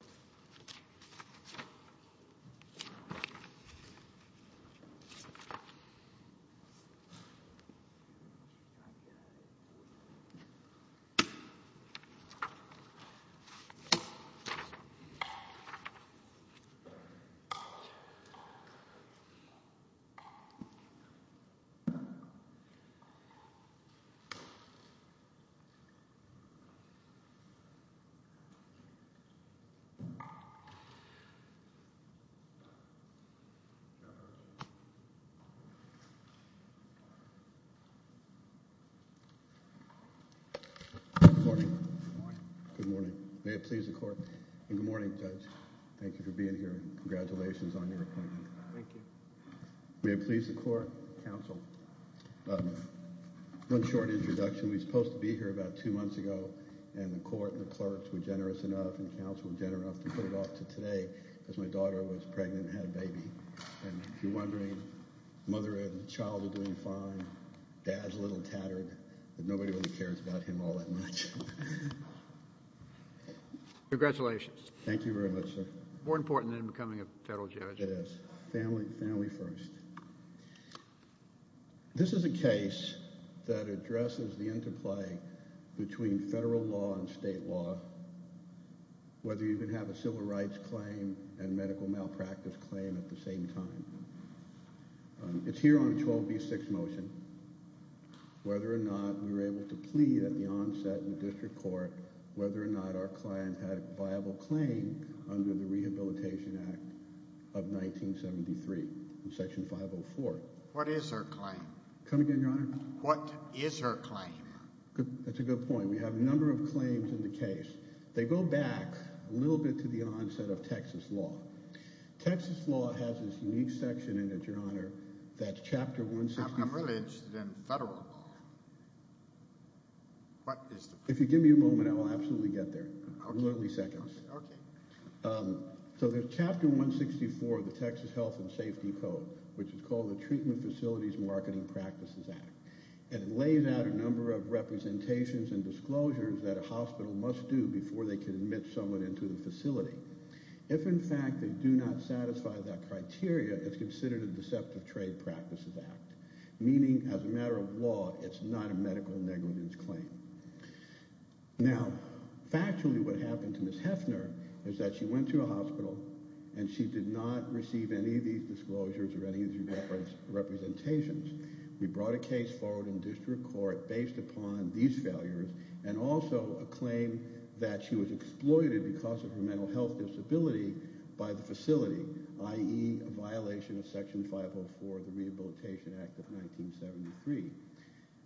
auld lang syne, e Good morning. May it please the court. Good morning judge. Thank you for being here. Congratulations on your appointment. Thank you. May it please the court. One short introduction, we were supposed to be here about two months ago and the court and the clerks were generous enough and the council were generous enough to put it off to today because my daughter was pregnant and had a baby. And if you're wondering, mother and child are doing fine, dad's a little tattered, but nobody really cares about him all that much. Congratulations. Thank you very much, sir. More important than becoming a federal judge. It is. Family first. This is a case that addresses the interplay between federal law and state law, whether you can have a civil rights claim and medical malpractice claim at the same time. It's here on 12B6 motion, whether or not we were able to plead at the onset in the district court, whether or not our client had a viable claim under the Rehabilitation Act of 1973, Section 504. What is her claim? Come again, Your Honor? What is her claim? That's a good point. We have a number of claims in the case. They go back a little bit to the onset of Texas law. Texas law has this unique section in it, Your Honor, that's Chapter 164. How come religion is in federal law? If you give me a moment, I will absolutely get there. Literally it's the 子 settlement facilities marketing practices act. It lays out a number of representations and disclosures that a hospital must do before they can admit someone into the facility. If in fact they do not satisfy that criteria, it's considered a deceptive trade practices act, meaning as a matter of law it's not a medical negligence claim. Factually what happened to Ms. Hefner is that she went to a hospital and she did not receive any of these disclosures or any of these representations. We brought a case forward in district court based upon these failures and also a claim that she was exploited because of her mental health disability by the facility, i.e. a violation of section 504 of the rehabilitation act of 1973.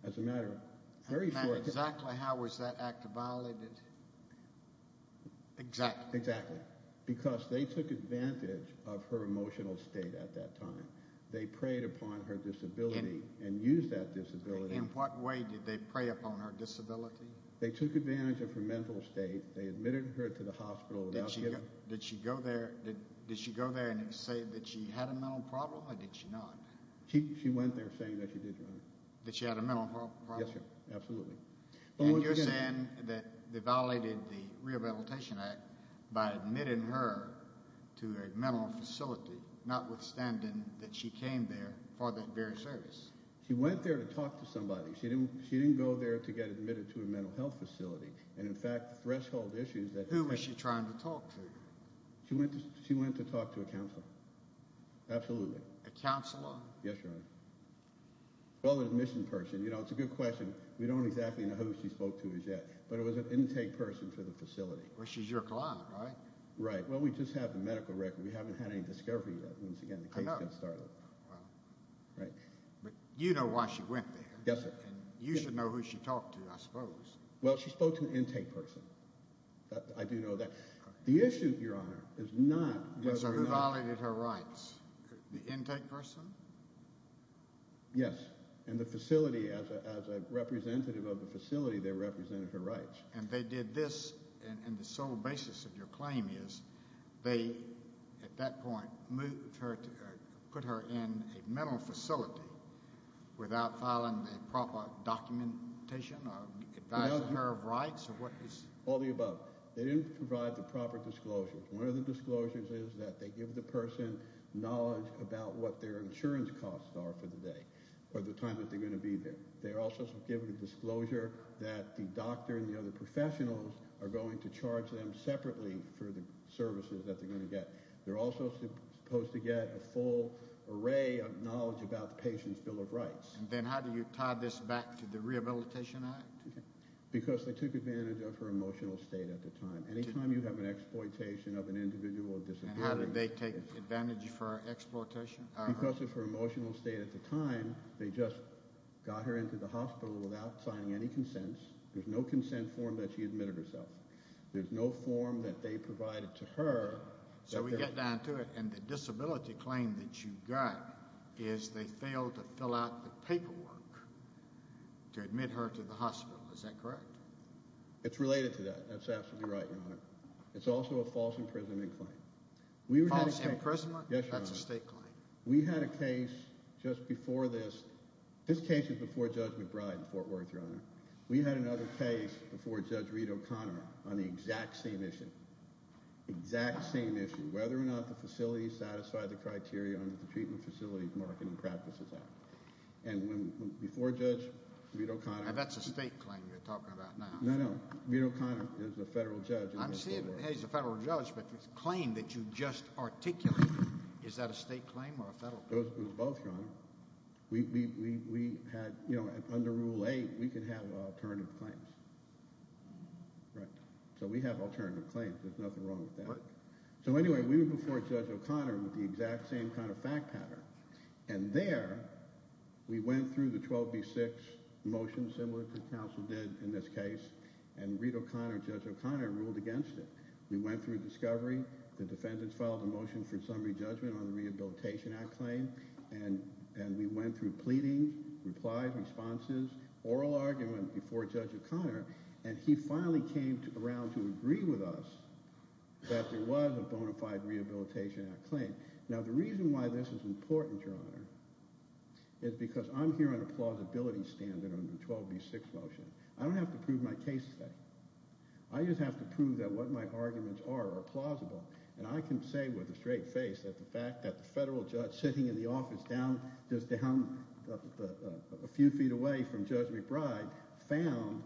As a matter of very short... And exactly how was that act violated? Exactly. Because they took advantage of her emotional state at that time. They preyed upon her disability and used that disability... In what way did they prey upon her disability? They took advantage of her mental state. They admitted her to the hospital without... Did she go there and say that she had a mental problem or did she not? She went there saying that she did not. That she had a mental problem? Yes, absolutely. And you're saying that they violated the rehabilitation act by admitting her to a mental facility notwithstanding that she came there for that very service? She went there to talk to somebody. She didn't go there to get admitted to a mental health facility and in fact the threshold issues that... Who was she trying to talk to? She went to talk to a counselor. Absolutely. A counselor? Yes, Your Honor. Well, an admission person. You know, it's a good question. We don't exactly know who she spoke to as yet, but it was an intake person for the facility. Well, she's your client, right? Right. Well, we just have the medical record. We haven't had any discovery yet. Once again, the case has just started. I know. Wow. Right. But you know why she went there. Yes, sir. And you should know who she talked to, I suppose. Well, she spoke to an intake person. I do know that. The issue, Your Honor, is not whether or not... So who violated her rights? The intake person? Yes. And the facility, as a representative of the facility, they represented her rights. And they did this, and the sole basis of your claim is they, at that point, put her in a mental facility without filing a proper documentation or advising her of rights? All of the above. They didn't provide the proper disclosure. One of the disclosures is that they give the person knowledge about what their insurance costs are for the day or the time that they're going to be there. They also give a disclosure that the doctor and the other professionals are going to charge them separately for the services that they're going to get. They're also supposed to get a full array of knowledge about the patient's bill of rights. Then how do you tie this back to the Rehabilitation Act? Because they took advantage of her emotional state at the time. Anytime you have an exploitation of an individual... And how did they take advantage of her exploitation? Because of her emotional state at the time, they just got her into the hospital without signing any consents. There's no consent form that she admitted herself. There's no form that they provided to her... So we get down to it, and the disability claim that you got is they failed to fill out the paperwork to admit her to the hospital. Is that correct? It's related to that. That's absolutely right, Your Honor. It's also a false imprisonment claim. False imprisonment? Yes, Your Honor. That's a state claim. We had a case just before this. This case is before Judge McBride in Fort Worth, Your Honor. We had another case before Judge Reid O'Connor on the exact same issue. Exact same issue. Whether or not the facility satisfied the criteria under the Treatment Facility Marketing Practices Act. And before Judge Reid O'Connor... Now that's a state claim you're talking about now. No, no. Reid O'Connor is a federal judge. I'm saying he's a federal judge, but the claim that you just articulated, is that a state claim or a federal claim? It was both, Your Honor. We had, you know, under Rule 8, we could have alternative claims. Right. So we have alternative claims. There's nothing wrong with that. So anyway, we were before Judge O'Connor with the exact same kind of fact pattern. And there, we went through the 12B6 motion, similar to what counsel did in this case. And Reid O'Connor and Judge O'Connor ruled against it. We went through discovery. The defendants filed a motion for summary judgment on the Rehabilitation Act claim. And we went through pleading, replies, responses, oral argument before Judge O'Connor. And he finally came around to agree with us that there was a bona fide Rehabilitation Act claim. Now, the reason why this is important, Your Honor, is because I'm here on a plausibility standard on the 12B6 motion. I don't have to prove my case today. I just have to prove that what my arguments are are plausible. And I can say with a straight face that the fact that the federal judge sitting in the office down, just down a few feet away from Judge McBride, found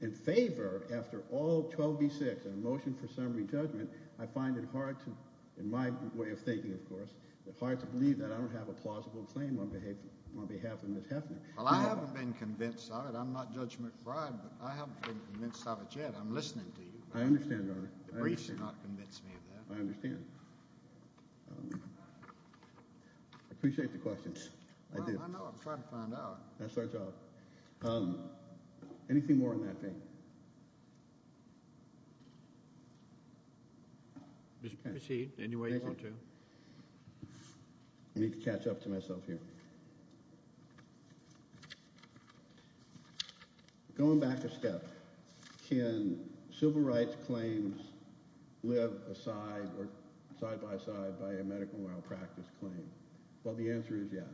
in favor, after all 12B6 motion for summary judgment, I find it hard to, in my way of thinking, of course, it's hard to believe that I don't have a plausible claim on behalf of Ms. Heffner. Well, I haven't been convinced of it. I'm not Judge McBride, but I haven't been convinced of it yet. I'm listening to you. I understand, Your Honor. The briefs do not convince me of that. I understand. I appreciate the questions. I know. I'm trying to find out. That's our job. Anything more on that thing? Proceed any way you want to. I need to catch up to myself here. Going back a step, can civil rights claims live side by side by a medical malpractice claim? Well, the answer is yes.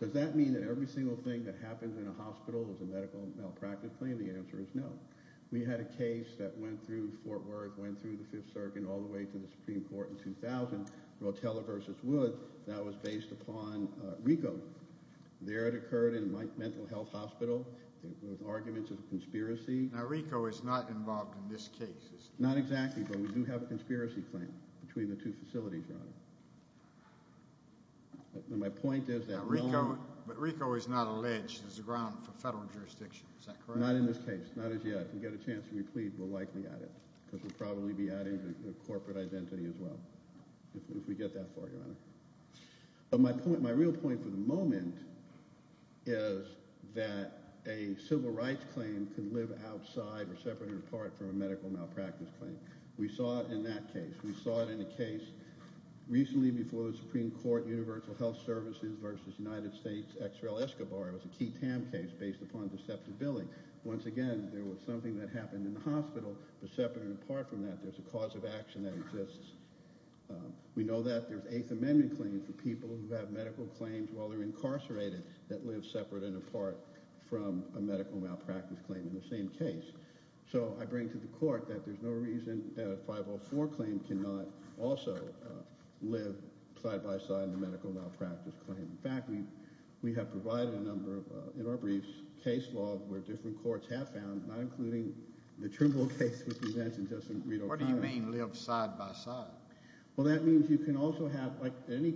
Does that mean that every single thing that happens in a hospital is a medical malpractice claim? The answer is no. We had a case that went through Fort Worth, went through the Fifth Circuit, all the way to the Supreme Court in 2000, Rotella v. Wood. That was based upon RICO. There it occurred in a mental health hospital. It was arguments of conspiracy. Now, RICO is not involved in this case. Not exactly, but we do have a conspiracy claim between the two facilities, Your Honor. My point is that RICO... But RICO is not alleged as a ground for federal jurisdiction. Is that correct? No, not in this case. Not as yet. If we get a chance to replead, we'll likely add it. Because we'll probably be adding the corporate identity as well, if we get that far, Your Honor. But my real point for the moment is that a civil rights claim can live outside or separate or apart from a medical malpractice claim. We saw it in that case. We saw it in a case recently before the Supreme Court, Universal Health Services v. United States, X. Rel. Escobar. It was a key TAM case based upon deceptive billing. Once again, there was something that happened in the hospital, but separate and apart from that, there's a cause of action that exists. We know that there's Eighth Amendment claims for people who have medical claims while they're incarcerated that live separate and apart from a medical malpractice claim in the same case. So I bring to the Court that there's no reason that a 504 claim cannot also live side by side with a medical malpractice claim. In fact, we have provided a number of, in our briefs, case law where different courts have found, not including the Trimble case which you mentioned, Justice Reed O'Connor. What do you mean live side by side? Well, that means you can also have, like any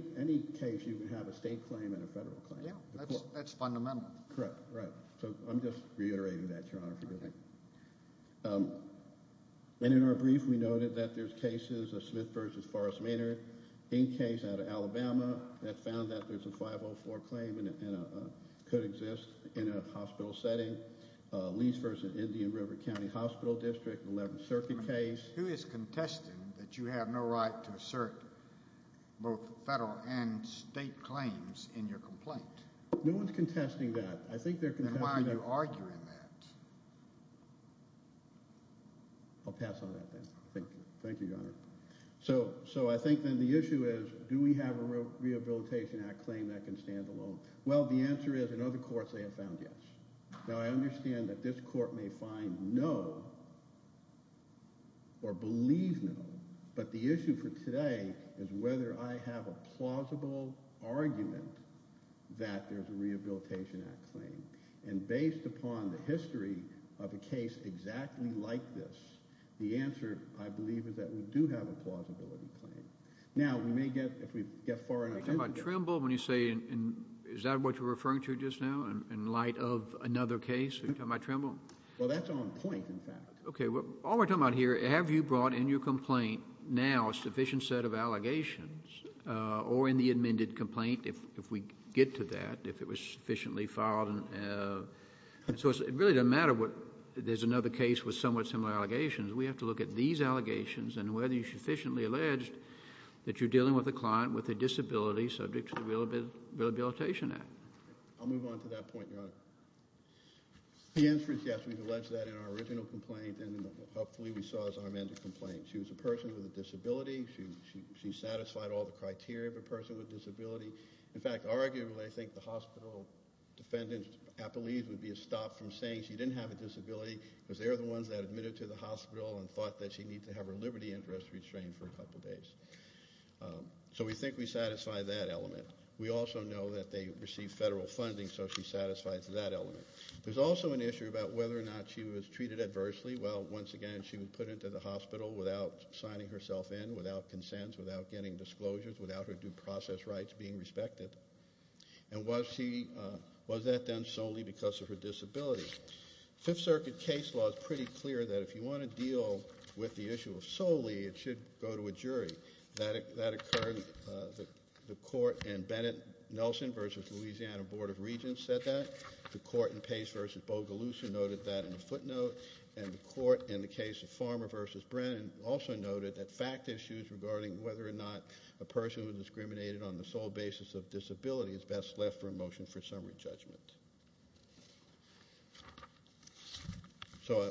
case, you can have a state claim and a federal claim. Yeah, that's fundamental. Correct, right. So I'm just reiterating that, Your Honor, if you don't mind. And in our brief, we noted that there's cases of Smith v. Forrest Maynard, Inc. case out of Alabama, that found that there's a 504 claim and it could exist in a hospital setting. Lees v. Indian River County Hospital District, 11th Circuit case. Who is contesting that you have no right to assert both federal and state claims in your complaint? No one's contesting that. I think they're contesting that. I'll pass on that then. Thank you. Thank you, Your Honor. So I think then the issue is do we have a Rehabilitation Act claim that can stand alone? Well, the answer is in other courts they have found yes. Now, I understand that this court may find no or believe no, but the issue for today is whether I have a plausible argument that there's a Rehabilitation Act claim. And based upon the history of a case exactly like this, the answer, I believe, is that we do have a plausibility claim. Now, we may get, if we get far enough ahead. Are you talking about Trimble when you say, is that what you're referring to just now in light of another case? Are you talking about Trimble? Well, that's on point, in fact. Okay, well, all we're talking about here, have you brought in your complaint now a sufficient set of allegations or in the amended complaint, if we get to that, if it was sufficiently filed? So it really doesn't matter if there's another case with somewhat similar allegations. We have to look at these allegations and whether you sufficiently alleged that you're dealing with a client with a disability subject to the Rehabilitation Act. I'll move on to that point, Your Honor. The answer is yes. We've alleged that in our original complaint and hopefully we saw it as our amended complaint. She was a person with a disability. She satisfied all the criteria of a person with a disability. In fact, arguably, I think the hospital defendants' appellees would be stopped from saying she didn't have a disability because they're the ones that admitted to the hospital and thought that she needed to have her liberty interest restrained for a couple days. So we think we satisfy that element. We also know that they received federal funding, so she satisfies that element. There's also an issue about whether or not she was treated adversely. Well, once again, she was put into the hospital without signing herself in, without consents, without getting disclosures, without her due process rights being respected. And was that done solely because of her disability? Fifth Circuit case law is pretty clear that if you want to deal with the issue solely, it should go to a jury. That occurred. The court in Bennett-Nelson v. Louisiana Board of Regents said that. The court in Pace v. Bogalusa noted that in a footnote. And the court in the case of Farmer v. Brennan also noted that fact issues regarding whether or not a person was discriminated on the sole basis of disability is best left for a motion for summary judgment. So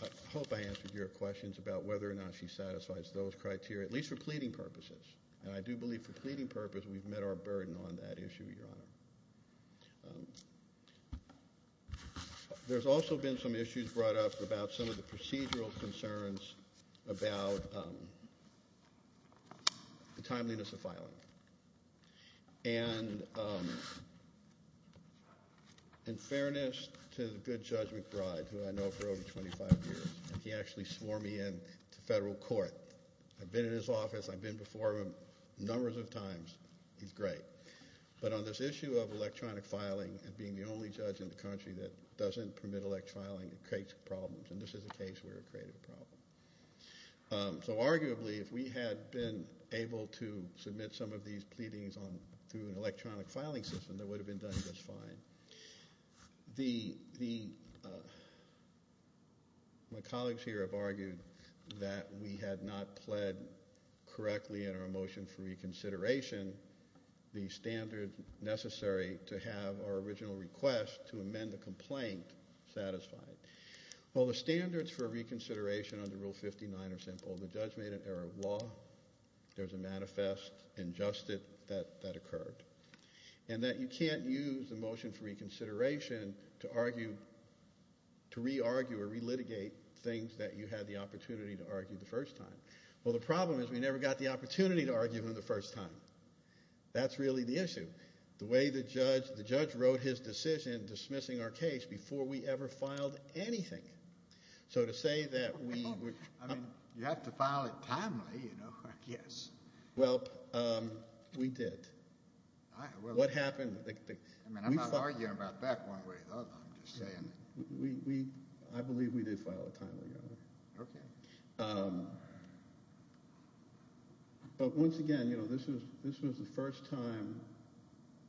I hope I answered your questions about whether or not she satisfies those criteria, at least for pleading purposes. And I do believe for pleading purposes we've met our burden on that issue, Your Honor. There's also been some issues brought up about some of the procedural concerns about the timeliness of filing. And in fairness to the good Judge McBride, who I know for over 25 years, he actually swore me into federal court. I've been in his office. I've been before him numbers of times. He's great. But on this issue of electronic filing and being the only judge in the country that doesn't permit electronic filing, it creates problems. And this is a case where it created a problem. So arguably if we had been able to submit some of these pleadings through an electronic filing system, that would have been done just fine. My colleagues here have argued that we had not pled correctly in our motion for reconsideration the standard necessary to have our original request to amend the complaint satisfied. Well, the standards for reconsideration under Rule 59 are simple. The judge made an error of law. There's a manifest injustice that occurred. And that you can't use the motion for reconsideration to argue – to re-argue or re-litigate things that you had the opportunity to argue the first time. Well, the problem is we never got the opportunity to argue them the first time. That's really the issue. The way the judge – the judge wrote his decision dismissing our case before we ever filed anything. So to say that we – I mean you have to file it timely, you know, I guess. Well, we did. What happened – I mean I'm not arguing about that one way or the other. I'm just saying. We – I believe we did file it timely. Okay. But once again, you know, this was the first time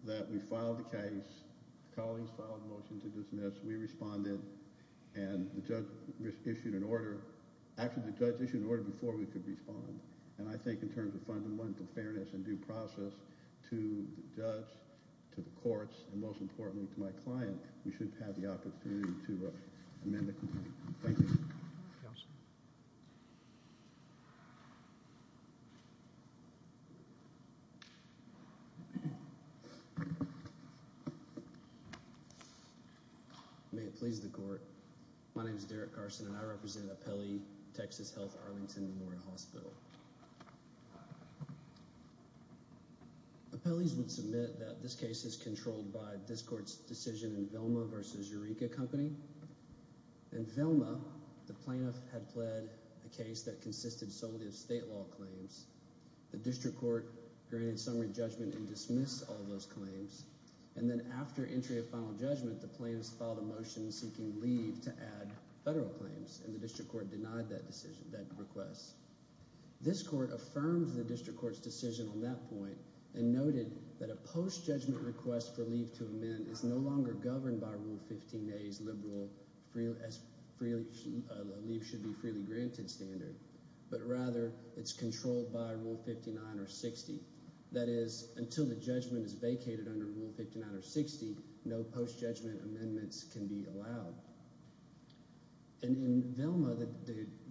that we filed a case. Colleagues filed a motion to dismiss. We responded. And the judge issued an order. Actually, the judge issued an order before we could respond. And I think in terms of fundamental fairness and due process to the judge, to the courts, and most importantly to my client, we should have the opportunity to amend the complaint. Thank you. Counsel. May it please the court. My name is Derek Carson, and I represent Apelli Texas Health Arlington Memorial Hospital. Apelli's would submit that this case is controlled by this court's decision in Velma v. Eureka Company. In Velma, the plaintiff had pled a case that consisted solely of state law claims. The district court granted summary judgment and dismissed all those claims. And then after entry of final judgment, the plaintiff filed a motion seeking leave to add federal claims, and the district court denied that request. This court affirmed the district court's decision on that point and noted that a post-judgment request for leave to amend is no longer governed by Rule 15a's leave should be freely granted standard, but rather it's controlled by Rule 59 or 60. That is, until the judgment is vacated under Rule 59 or 60, no post-judgment amendments can be allowed. And in Velma,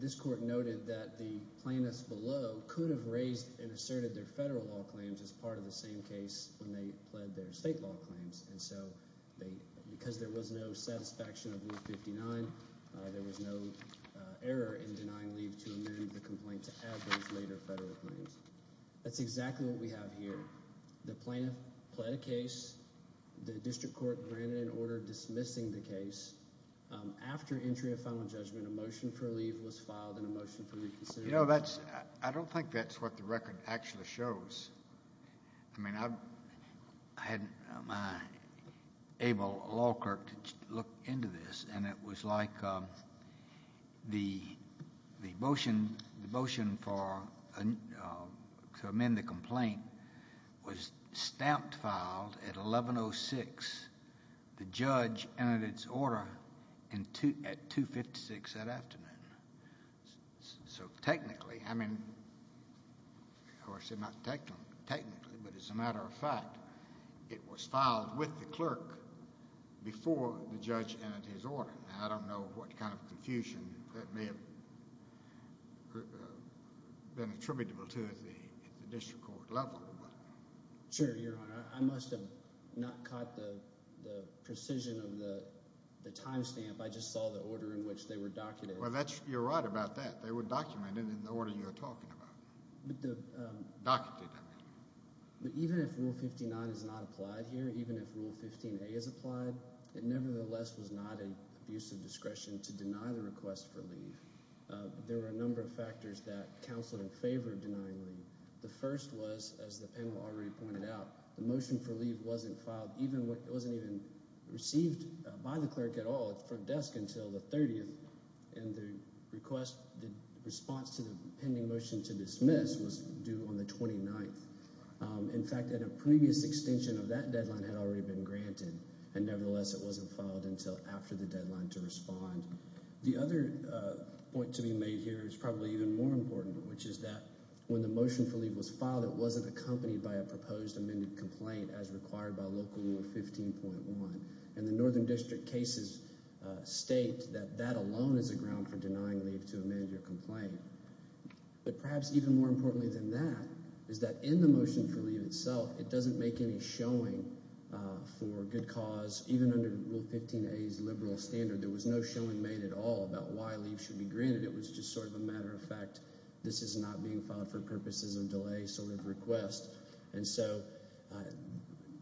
this court noted that the plaintiffs below could have raised and asserted their federal law claims as part of the same case when they pled their state law claims. And so because there was no satisfaction of Rule 59, there was no error in denying leave to amend the complaint to add those later federal claims. That's exactly what we have here. The plaintiff pled a case. The district court granted an order dismissing the case. After entry of final judgment, a motion for leave was filed and a motion for reconsideration was filed. I don't think that's what the record actually shows. I mean, I had my able law clerk to look into this, and it was like the motion for amend the complaint was stamped filed at 1106. The judge entered its order at 256 that afternoon. So technically, I mean, of course it's not technically, but as a matter of fact, it was filed with the clerk before the judge entered his order. And I don't know what kind of confusion that may have been attributable to at the district court level. Sure, Your Honor. I must have not caught the precision of the timestamp. I just saw the order in which they were documented. Well, you're right about that. They were documented in the order you're talking about. Documented, I mean. But even if Rule 15-9 is not applied here, even if Rule 15-A is applied, it nevertheless was not an abuse of discretion to deny the request for leave. There were a number of factors that counseled in favor of denying leave. The first was, as the panel already pointed out, the motion for leave wasn't filed. It wasn't even received by the clerk at all at the front desk until the 30th, and the request, the response to the pending motion to dismiss was due on the 29th. In fact, a previous extension of that deadline had already been granted, and nevertheless it wasn't filed until after the deadline to respond. The other point to be made here is probably even more important, which is that when the motion for leave was filed, it wasn't accompanied by a proposed amended complaint as required by Local Rule 15.1. And the Northern District cases state that that alone is a ground for denying leave to amend your complaint. But perhaps even more importantly than that is that in the motion for leave itself, it doesn't make any showing for good cause. Even under Rule 15-A's liberal standard, there was no showing made at all about why leave should be granted. It was just sort of a matter of fact this is not being filed for purposes of delay sort of request. And so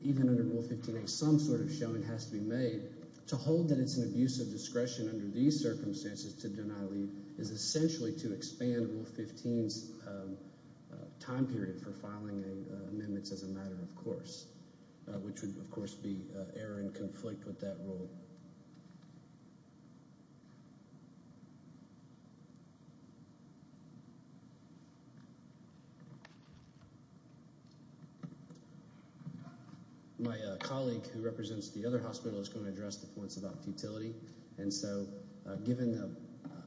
even under Rule 15-A, some sort of showing has to be made. To hold that it's an abuse of discretion under these circumstances to deny leave is essentially to expand Rule 15's time period for filing amendments as a matter of course, which would of course be error and conflict with that rule. My colleague who represents the other hospital is going to address the points about futility. And so given the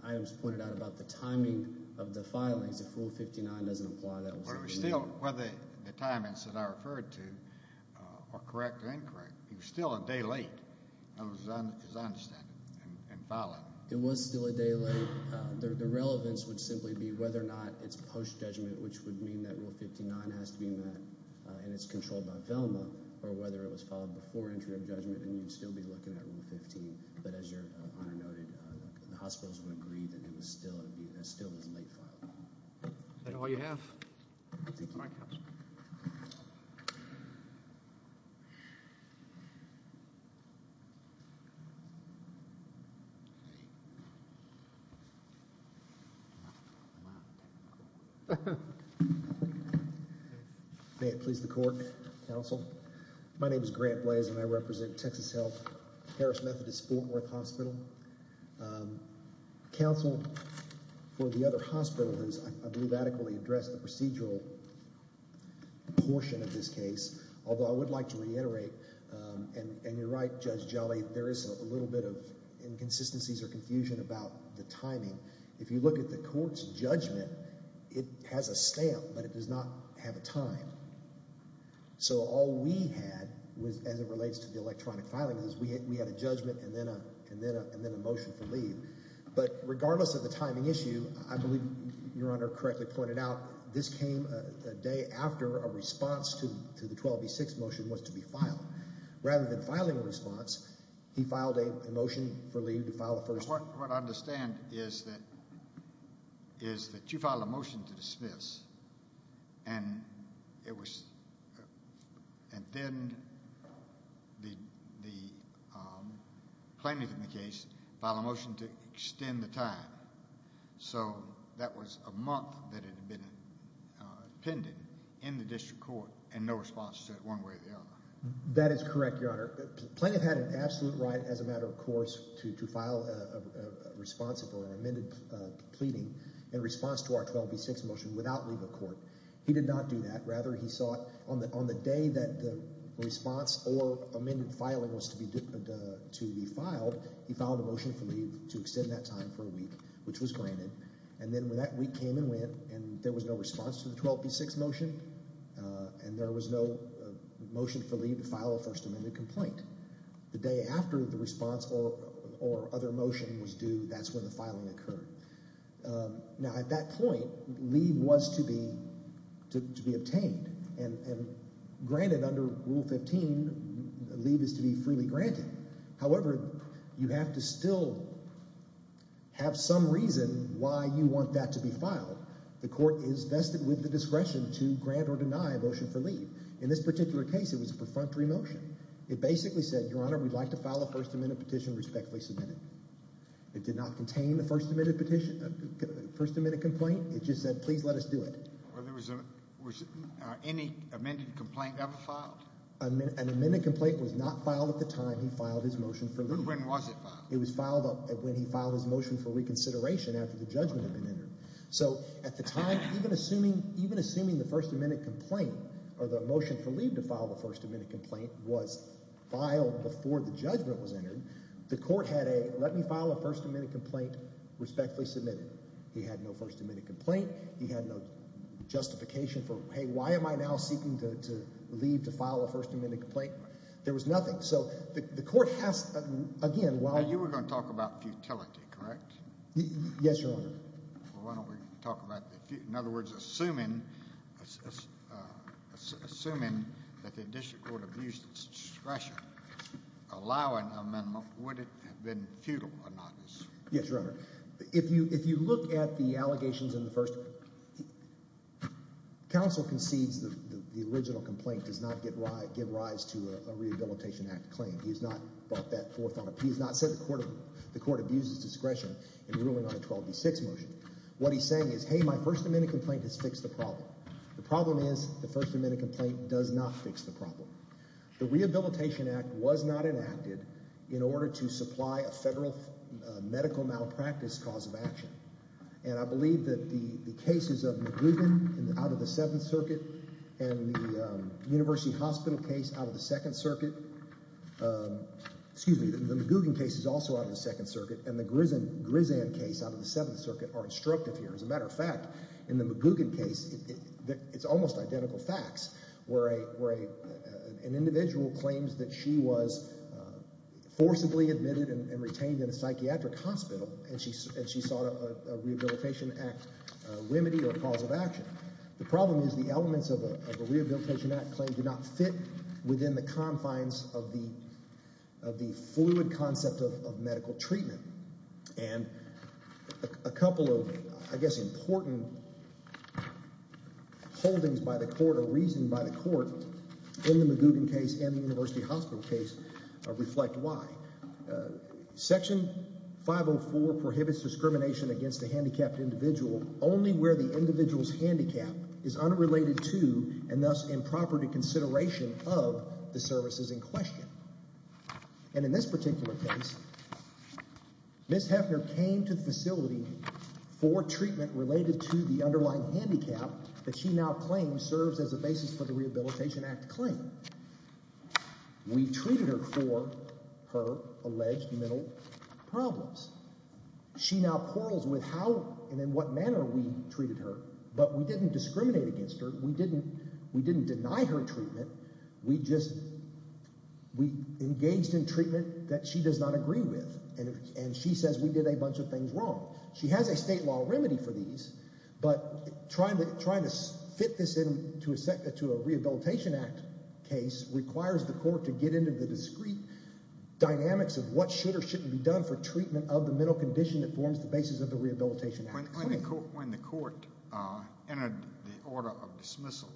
items pointed out about the timing of the filings, if Rule 15-A doesn't apply, that will certainly— Well, the timings that I referred to are correct and incorrect. It was still a day late, as I understand it, in filing. It was still a day late. The relevance would simply be whether or not it's post-judgment, which would mean that Rule 15-9 has to be met and it's controlled by VELMA, or whether it was filed before entry of judgment and you'd still be looking at Rule 15. But as Your Honor noted, the hospitals would agree that it was still a late filing. Is that all you have? Thank you, Your Honor. May it please the court, counsel. My name is Grant Blaise and I represent Texas Health, Harris Methodist, Fort Worth Hospital. Counsel for the other hospital has, I believe, adequately addressed the procedural portion of this case. Although I would like to reiterate, and you're right, Judge Jolly, there is a little bit of inconsistencies or confusion about the timing. If you look at the court's judgment, it has a stamp, but it does not have a time. So all we had, as it relates to the electronic filing, is we had a judgment and then a motion for leave. But regardless of the timing issue, I believe Your Honor correctly pointed out, this came a day after a response to the 12B6 motion was to be filed. Rather than filing a response, he filed a motion for leave to file the first one. What I understand is that you filed a motion to dismiss and then the plaintiff in the case filed a motion to extend the time. So that was a month that had been appended in the district court and no response to it one way or the other. Plaintiff had an absolute right as a matter of course to file a response or an amended pleading in response to our 12B6 motion without leave of court. He did not do that. Rather, he saw it on the day that the response or amended filing was to be filed, he filed a motion for leave to extend that time for a week, which was granted. And then that week came and went and there was no response to the 12B6 motion and there was no motion for leave to file a First Amendment complaint. The day after the response or other motion was due, that's when the filing occurred. Now at that point, leave was to be obtained and granted under Rule 15, leave is to be freely granted. However, you have to still have some reason why you want that to be filed. The court is vested with the discretion to grant or deny a motion for leave. In this particular case, it was a perfunctory motion. It basically said, Your Honor, we'd like to file a First Amendment petition respectfully submitted. It did not contain the First Amendment petition, First Amendment complaint. It just said, please let us do it. Was any amended complaint ever filed? An amended complaint was not filed at the time he filed his motion for leave. When was it filed? It was filed when he filed his motion for reconsideration after the judgment had been entered. So at the time, even assuming the First Amendment complaint or the motion for leave to file the First Amendment complaint was filed before the judgment was entered, the court had a let me file a First Amendment complaint respectfully submitted. He had no First Amendment complaint. He had no justification for, hey, why am I now seeking to leave to file a First Amendment complaint? There was nothing. So the court has, again, while— You were going to talk about futility, correct? Yes, Your Honor. Well, why don't we talk about—in other words, assuming that the district court abused its discretion, allowing an amendment, would it have been futile or not? Yes, Your Honor. If you look at the allegations in the first—Counsel concedes the original complaint does not give rise to a Rehabilitation Act claim. He has not brought that forth on a—he has not said the court abuses discretion in ruling on a 12b6 motion. What he's saying is, hey, my First Amendment complaint has fixed the problem. The problem is the First Amendment complaint does not fix the problem. The Rehabilitation Act was not enacted in order to supply a federal medical malpractice cause of action. And I believe that the cases of McGugan out of the Seventh Circuit and the University Hospital case out of the Second Circuit— excuse me, the McGugan case is also out of the Second Circuit, and the Grisant case out of the Seventh Circuit are instructive here. As a matter of fact, in the McGugan case, it's almost identical facts where an individual claims that she was forcibly admitted and retained in a psychiatric hospital, and she sought a Rehabilitation Act remedy or cause of action. The problem is the elements of a Rehabilitation Act claim do not fit within the confines of the fluid concept of medical treatment. And a couple of, I guess, important holdings by the court or reason by the court in the McGugan case and the University Hospital case reflect why. Section 504 prohibits discrimination against a handicapped individual only where the individual's handicap is unrelated to and thus improper to consideration of the services in question. And in this particular case, Ms. Heffner came to the facility for treatment related to the underlying handicap that she now claims serves as a basis for the Rehabilitation Act claim. We treated her for her alleged mental problems. She now quarrels with how and in what manner we treated her, but we didn't discriminate against her. We didn't deny her treatment. We just engaged in treatment that she does not agree with, and she says we did a bunch of things wrong. She has a state law remedy for these, but trying to fit this into a Rehabilitation Act case requires the court to get into the discrete dynamics of what should or shouldn't be done for treatment of the mental condition that forms the basis of the Rehabilitation Act claim. When the court entered the order of dismissal,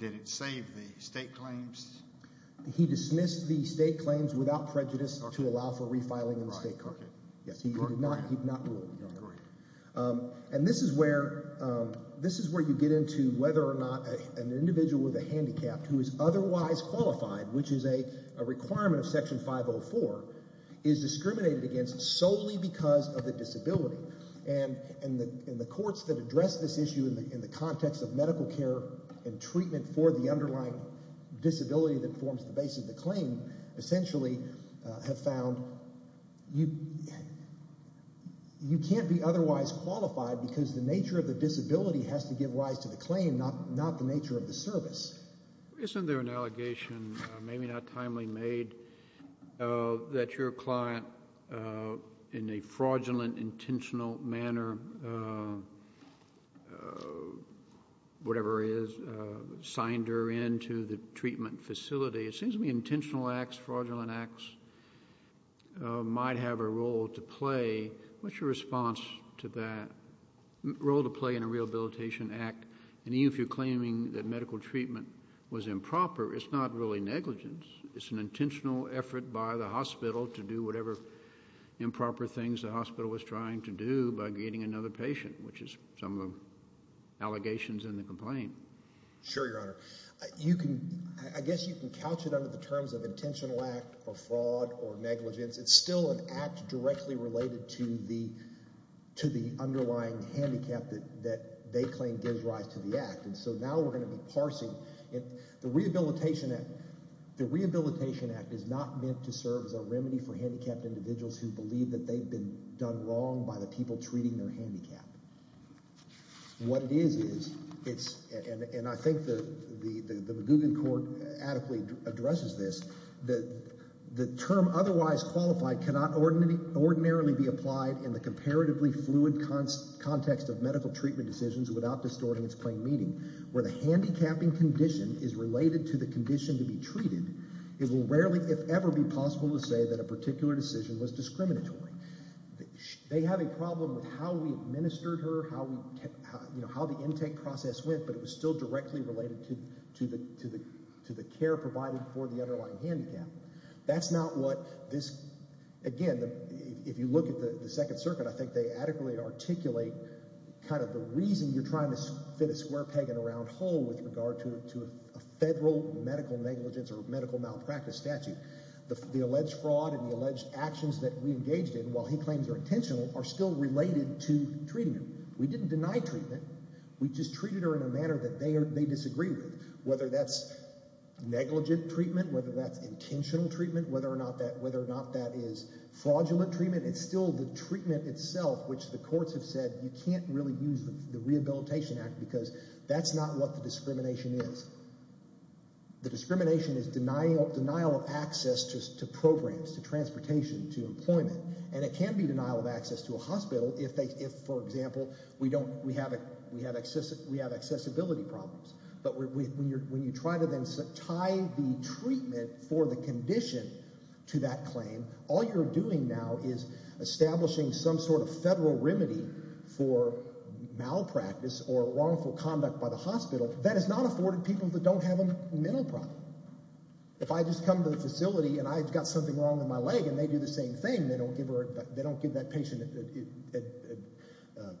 did it save the state claims? He dismissed the state claims without prejudice to allow for refiling in the state court. He did not do it. And this is where you get into whether or not an individual with a handicap who is otherwise qualified, which is a requirement of Section 504, is discriminated against solely because of the disability. And the courts that address this issue in the context of medical care and treatment for the underlying disability that forms the basis of the claim essentially have found you can't be otherwise qualified because the nature of the disability has to give rise to the claim, not the nature of the service. Isn't there an allegation, maybe not timely made, that your client in a fraudulent, intentional manner, whatever it is, signed her into the treatment facility? It seems to me intentional acts, fraudulent acts might have a role to play. What's your response to that role to play in a Rehabilitation Act? And even if you're claiming that medical treatment was improper, it's not really negligence. It's an intentional effort by the hospital to do whatever improper things the hospital was trying to do by getting another patient, which is some of the allegations in the complaint. Sure, Your Honor. I guess you can couch it under the terms of intentional act or fraud or negligence. It's still an act directly related to the underlying handicap that they claim gives rise to the act. And so now we're going to be parsing it. The Rehabilitation Act is not meant to serve as a remedy for handicapped individuals who believe that they've been done wrong by the people treating their handicap. What it is, is it's – and I think the Magoogan Court adequately addresses this. The term otherwise qualified cannot ordinarily be applied in the comparatively fluid context of medical treatment decisions without distorting its plain meaning. Where the handicapping condition is related to the condition to be treated, it will rarely, if ever, be possible to say that a particular decision was discriminatory. They have a problem with how we administered her, how the intake process went, but it was still directly related to the care provided for the underlying handicap. That's not what this – again, if you look at the Second Circuit, I think they adequately articulate kind of the reason you're trying to fit a square peg in a round hole with regard to a federal medical negligence or medical malpractice statute. The alleged fraud and the alleged actions that we engaged in, while he claims are intentional, are still related to treatment. We didn't deny treatment. We just treated her in a manner that they disagree with, whether that's negligent treatment, whether that's intentional treatment, whether or not that is fraudulent treatment. It's still the treatment itself, which the courts have said you can't really use the Rehabilitation Act because that's not what the discrimination is. The discrimination is denial of access to programs, to transportation, to employment, and it can be denial of access to a hospital if, for example, we have accessibility problems. But when you try to then tie the treatment for the condition to that claim, all you're doing now is establishing some sort of federal remedy for malpractice or wrongful conduct by the hospital that is not afforded people that don't have a mental problem. If I just come to the facility and I've got something wrong with my leg and they do the same thing, they don't give that patient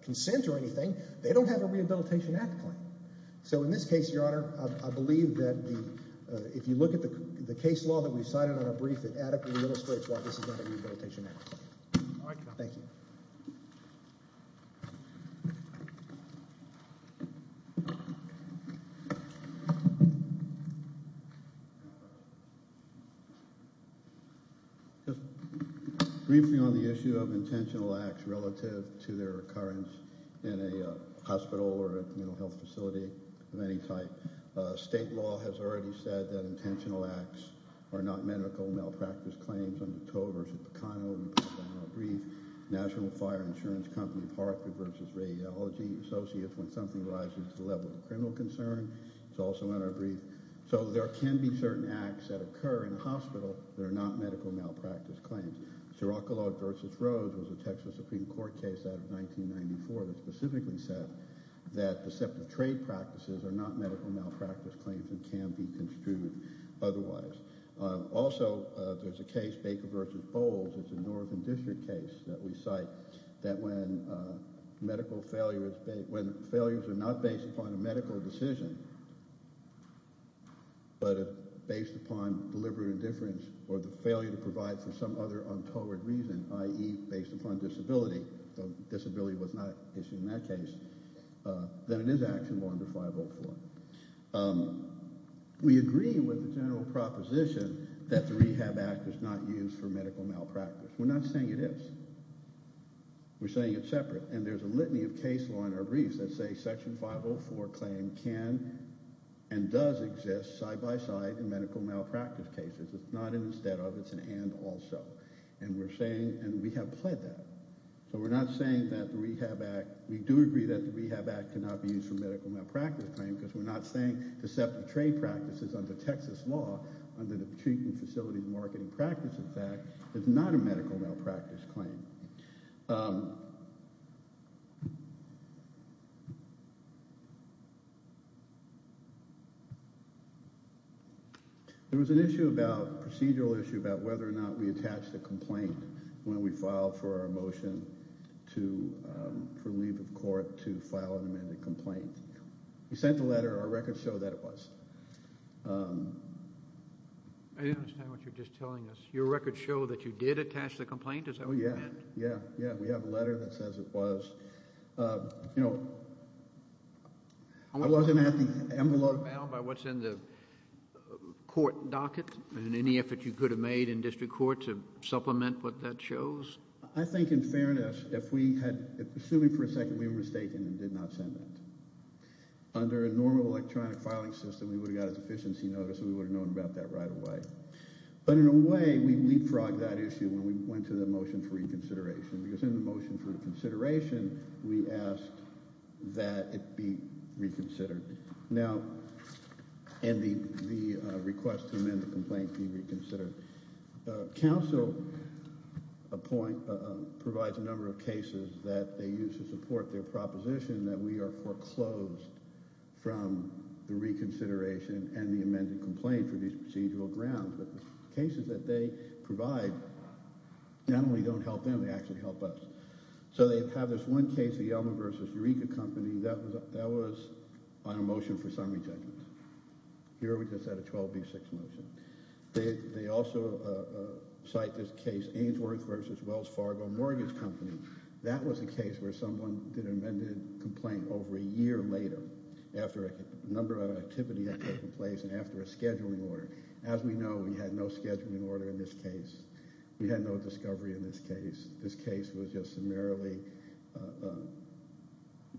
consent or anything, they don't have a Rehabilitation Act claim. So in this case, Your Honor, I believe that if you look at the case law that we've cited on a brief, it adequately illustrates why this is not a Rehabilitation Act claim. Thank you. Just briefing on the issue of intentional acts relative to their occurrence in a hospital or a mental health facility of any type. State law has already said that intentional acts are not medical malpractice claims. Under Tover v. Pecano, we put that on our brief. National Fire Insurance Company of Hartford v. Radiology associates when something rises to the level of criminal concern. It's also on our brief. So there can be certain acts that occur in a hospital that are not medical malpractice claims. Siracolog v. Rose was a Texas Supreme Court case out of 1994 that specifically said that deceptive trade practices are not medical malpractice claims and can be construed otherwise. Also, there's a case, Baker v. Bowles. It's a Northern District case that we cite that when medical failures are not based upon a medical decision but based upon deliberate indifference or the failure to provide for some other untoward reason, i.e. based upon disability, though disability was not issued in that case, then it is action law under 504. We agree with the general proposition that the Rehab Act is not used for medical malpractice. We're not saying it is. We're saying it's separate. And there's a litany of case law in our briefs that say Section 504 claim can and does exist side by side in medical malpractice cases. It's not an instead of. It's an and also. And we're saying and we have pled that. So we're not saying that the Rehab Act. We do agree that the Rehab Act cannot be used for medical malpractice claim because we're not saying deceptive trade practices under Texas law under the Treatment Facilities Marketing Practices Act is not a medical malpractice claim. There was an issue about procedural issue about whether or not we attached a complaint when we filed for a motion to for leave of court to file an amended complaint. We sent a letter. Our records show that it was. I don't understand what you're just telling us. Your records show that you did attach the complaint. Oh, yeah. Yeah. Yeah. We have a letter that says it was. You know, I wasn't at the envelope. By what's in the court docket and any effort you could have made in district court to supplement what that shows. I think in fairness, if we had assuming for a second we were mistaken and did not send it under a normal electronic filing system, we would have got a deficiency notice. We would have known about that right away. But in a way we leapfrogged that issue when we went to the motion for reconsideration because in the motion for consideration, we asked that it be reconsidered. Now, and the request to amend the complaint be reconsidered. Council provides a number of cases that they use to support their proposition that we are foreclosed from the reconsideration and the amended complaint for these procedural grounds. The cases that they provide not only don't help them, they actually help us. So they have this one case, the Yelmer v. Eureka Company, that was on a motion for summary judgment. Here we just had a 12B6 motion. They also cite this case, Ainsworth v. Wells Fargo Mortgage Company. That was a case where someone did an amended complaint over a year later after a number of activities had taken place and after a scheduling order. As we know, we had no scheduling order in this case. We had no discovery in this case. This case was just summarily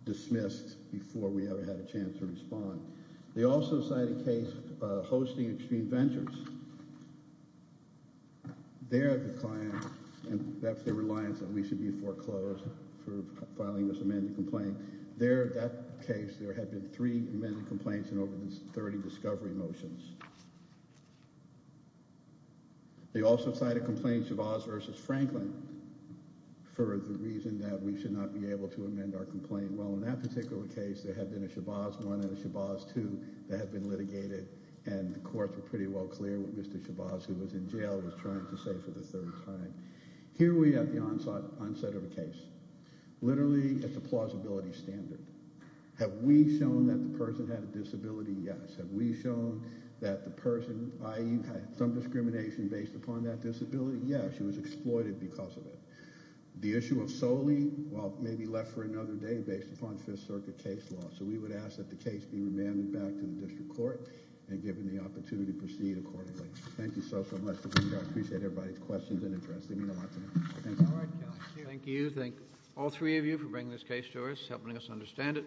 dismissed before we ever had a chance to respond. They also cite a case hosting Extreme Ventures. There the client, and that's the reliance that we should be foreclosed for filing this amended complaint. There, that case, there had been three amended complaints and over 30 discovery motions. They also cite a complaint, Chavez v. Franklin, for the reason that we should not be able to amend our complaint. Well, in that particular case, there had been a Chavez 1 and a Chavez 2 that had been litigated, and the courts were pretty well clear what Mr. Chavez, who was in jail, was trying to say for the third time. Here we have the onset of a case. Literally, it's a plausibility standard. Have we shown that the person had a disability? Yes. Have we shown that the person, i.e., had some discrimination based upon that disability? Yes. It was exploited because of it. The issue of solely, well, may be left for another day based upon Fifth Circuit case law. So we would ask that the case be remanded back to the district court and given the opportunity to proceed accordingly. Thank you so, so much. I appreciate everybody's questions and interest. Thank you. Thank you. Thank all three of you for bringing this case to us, helping us understand it.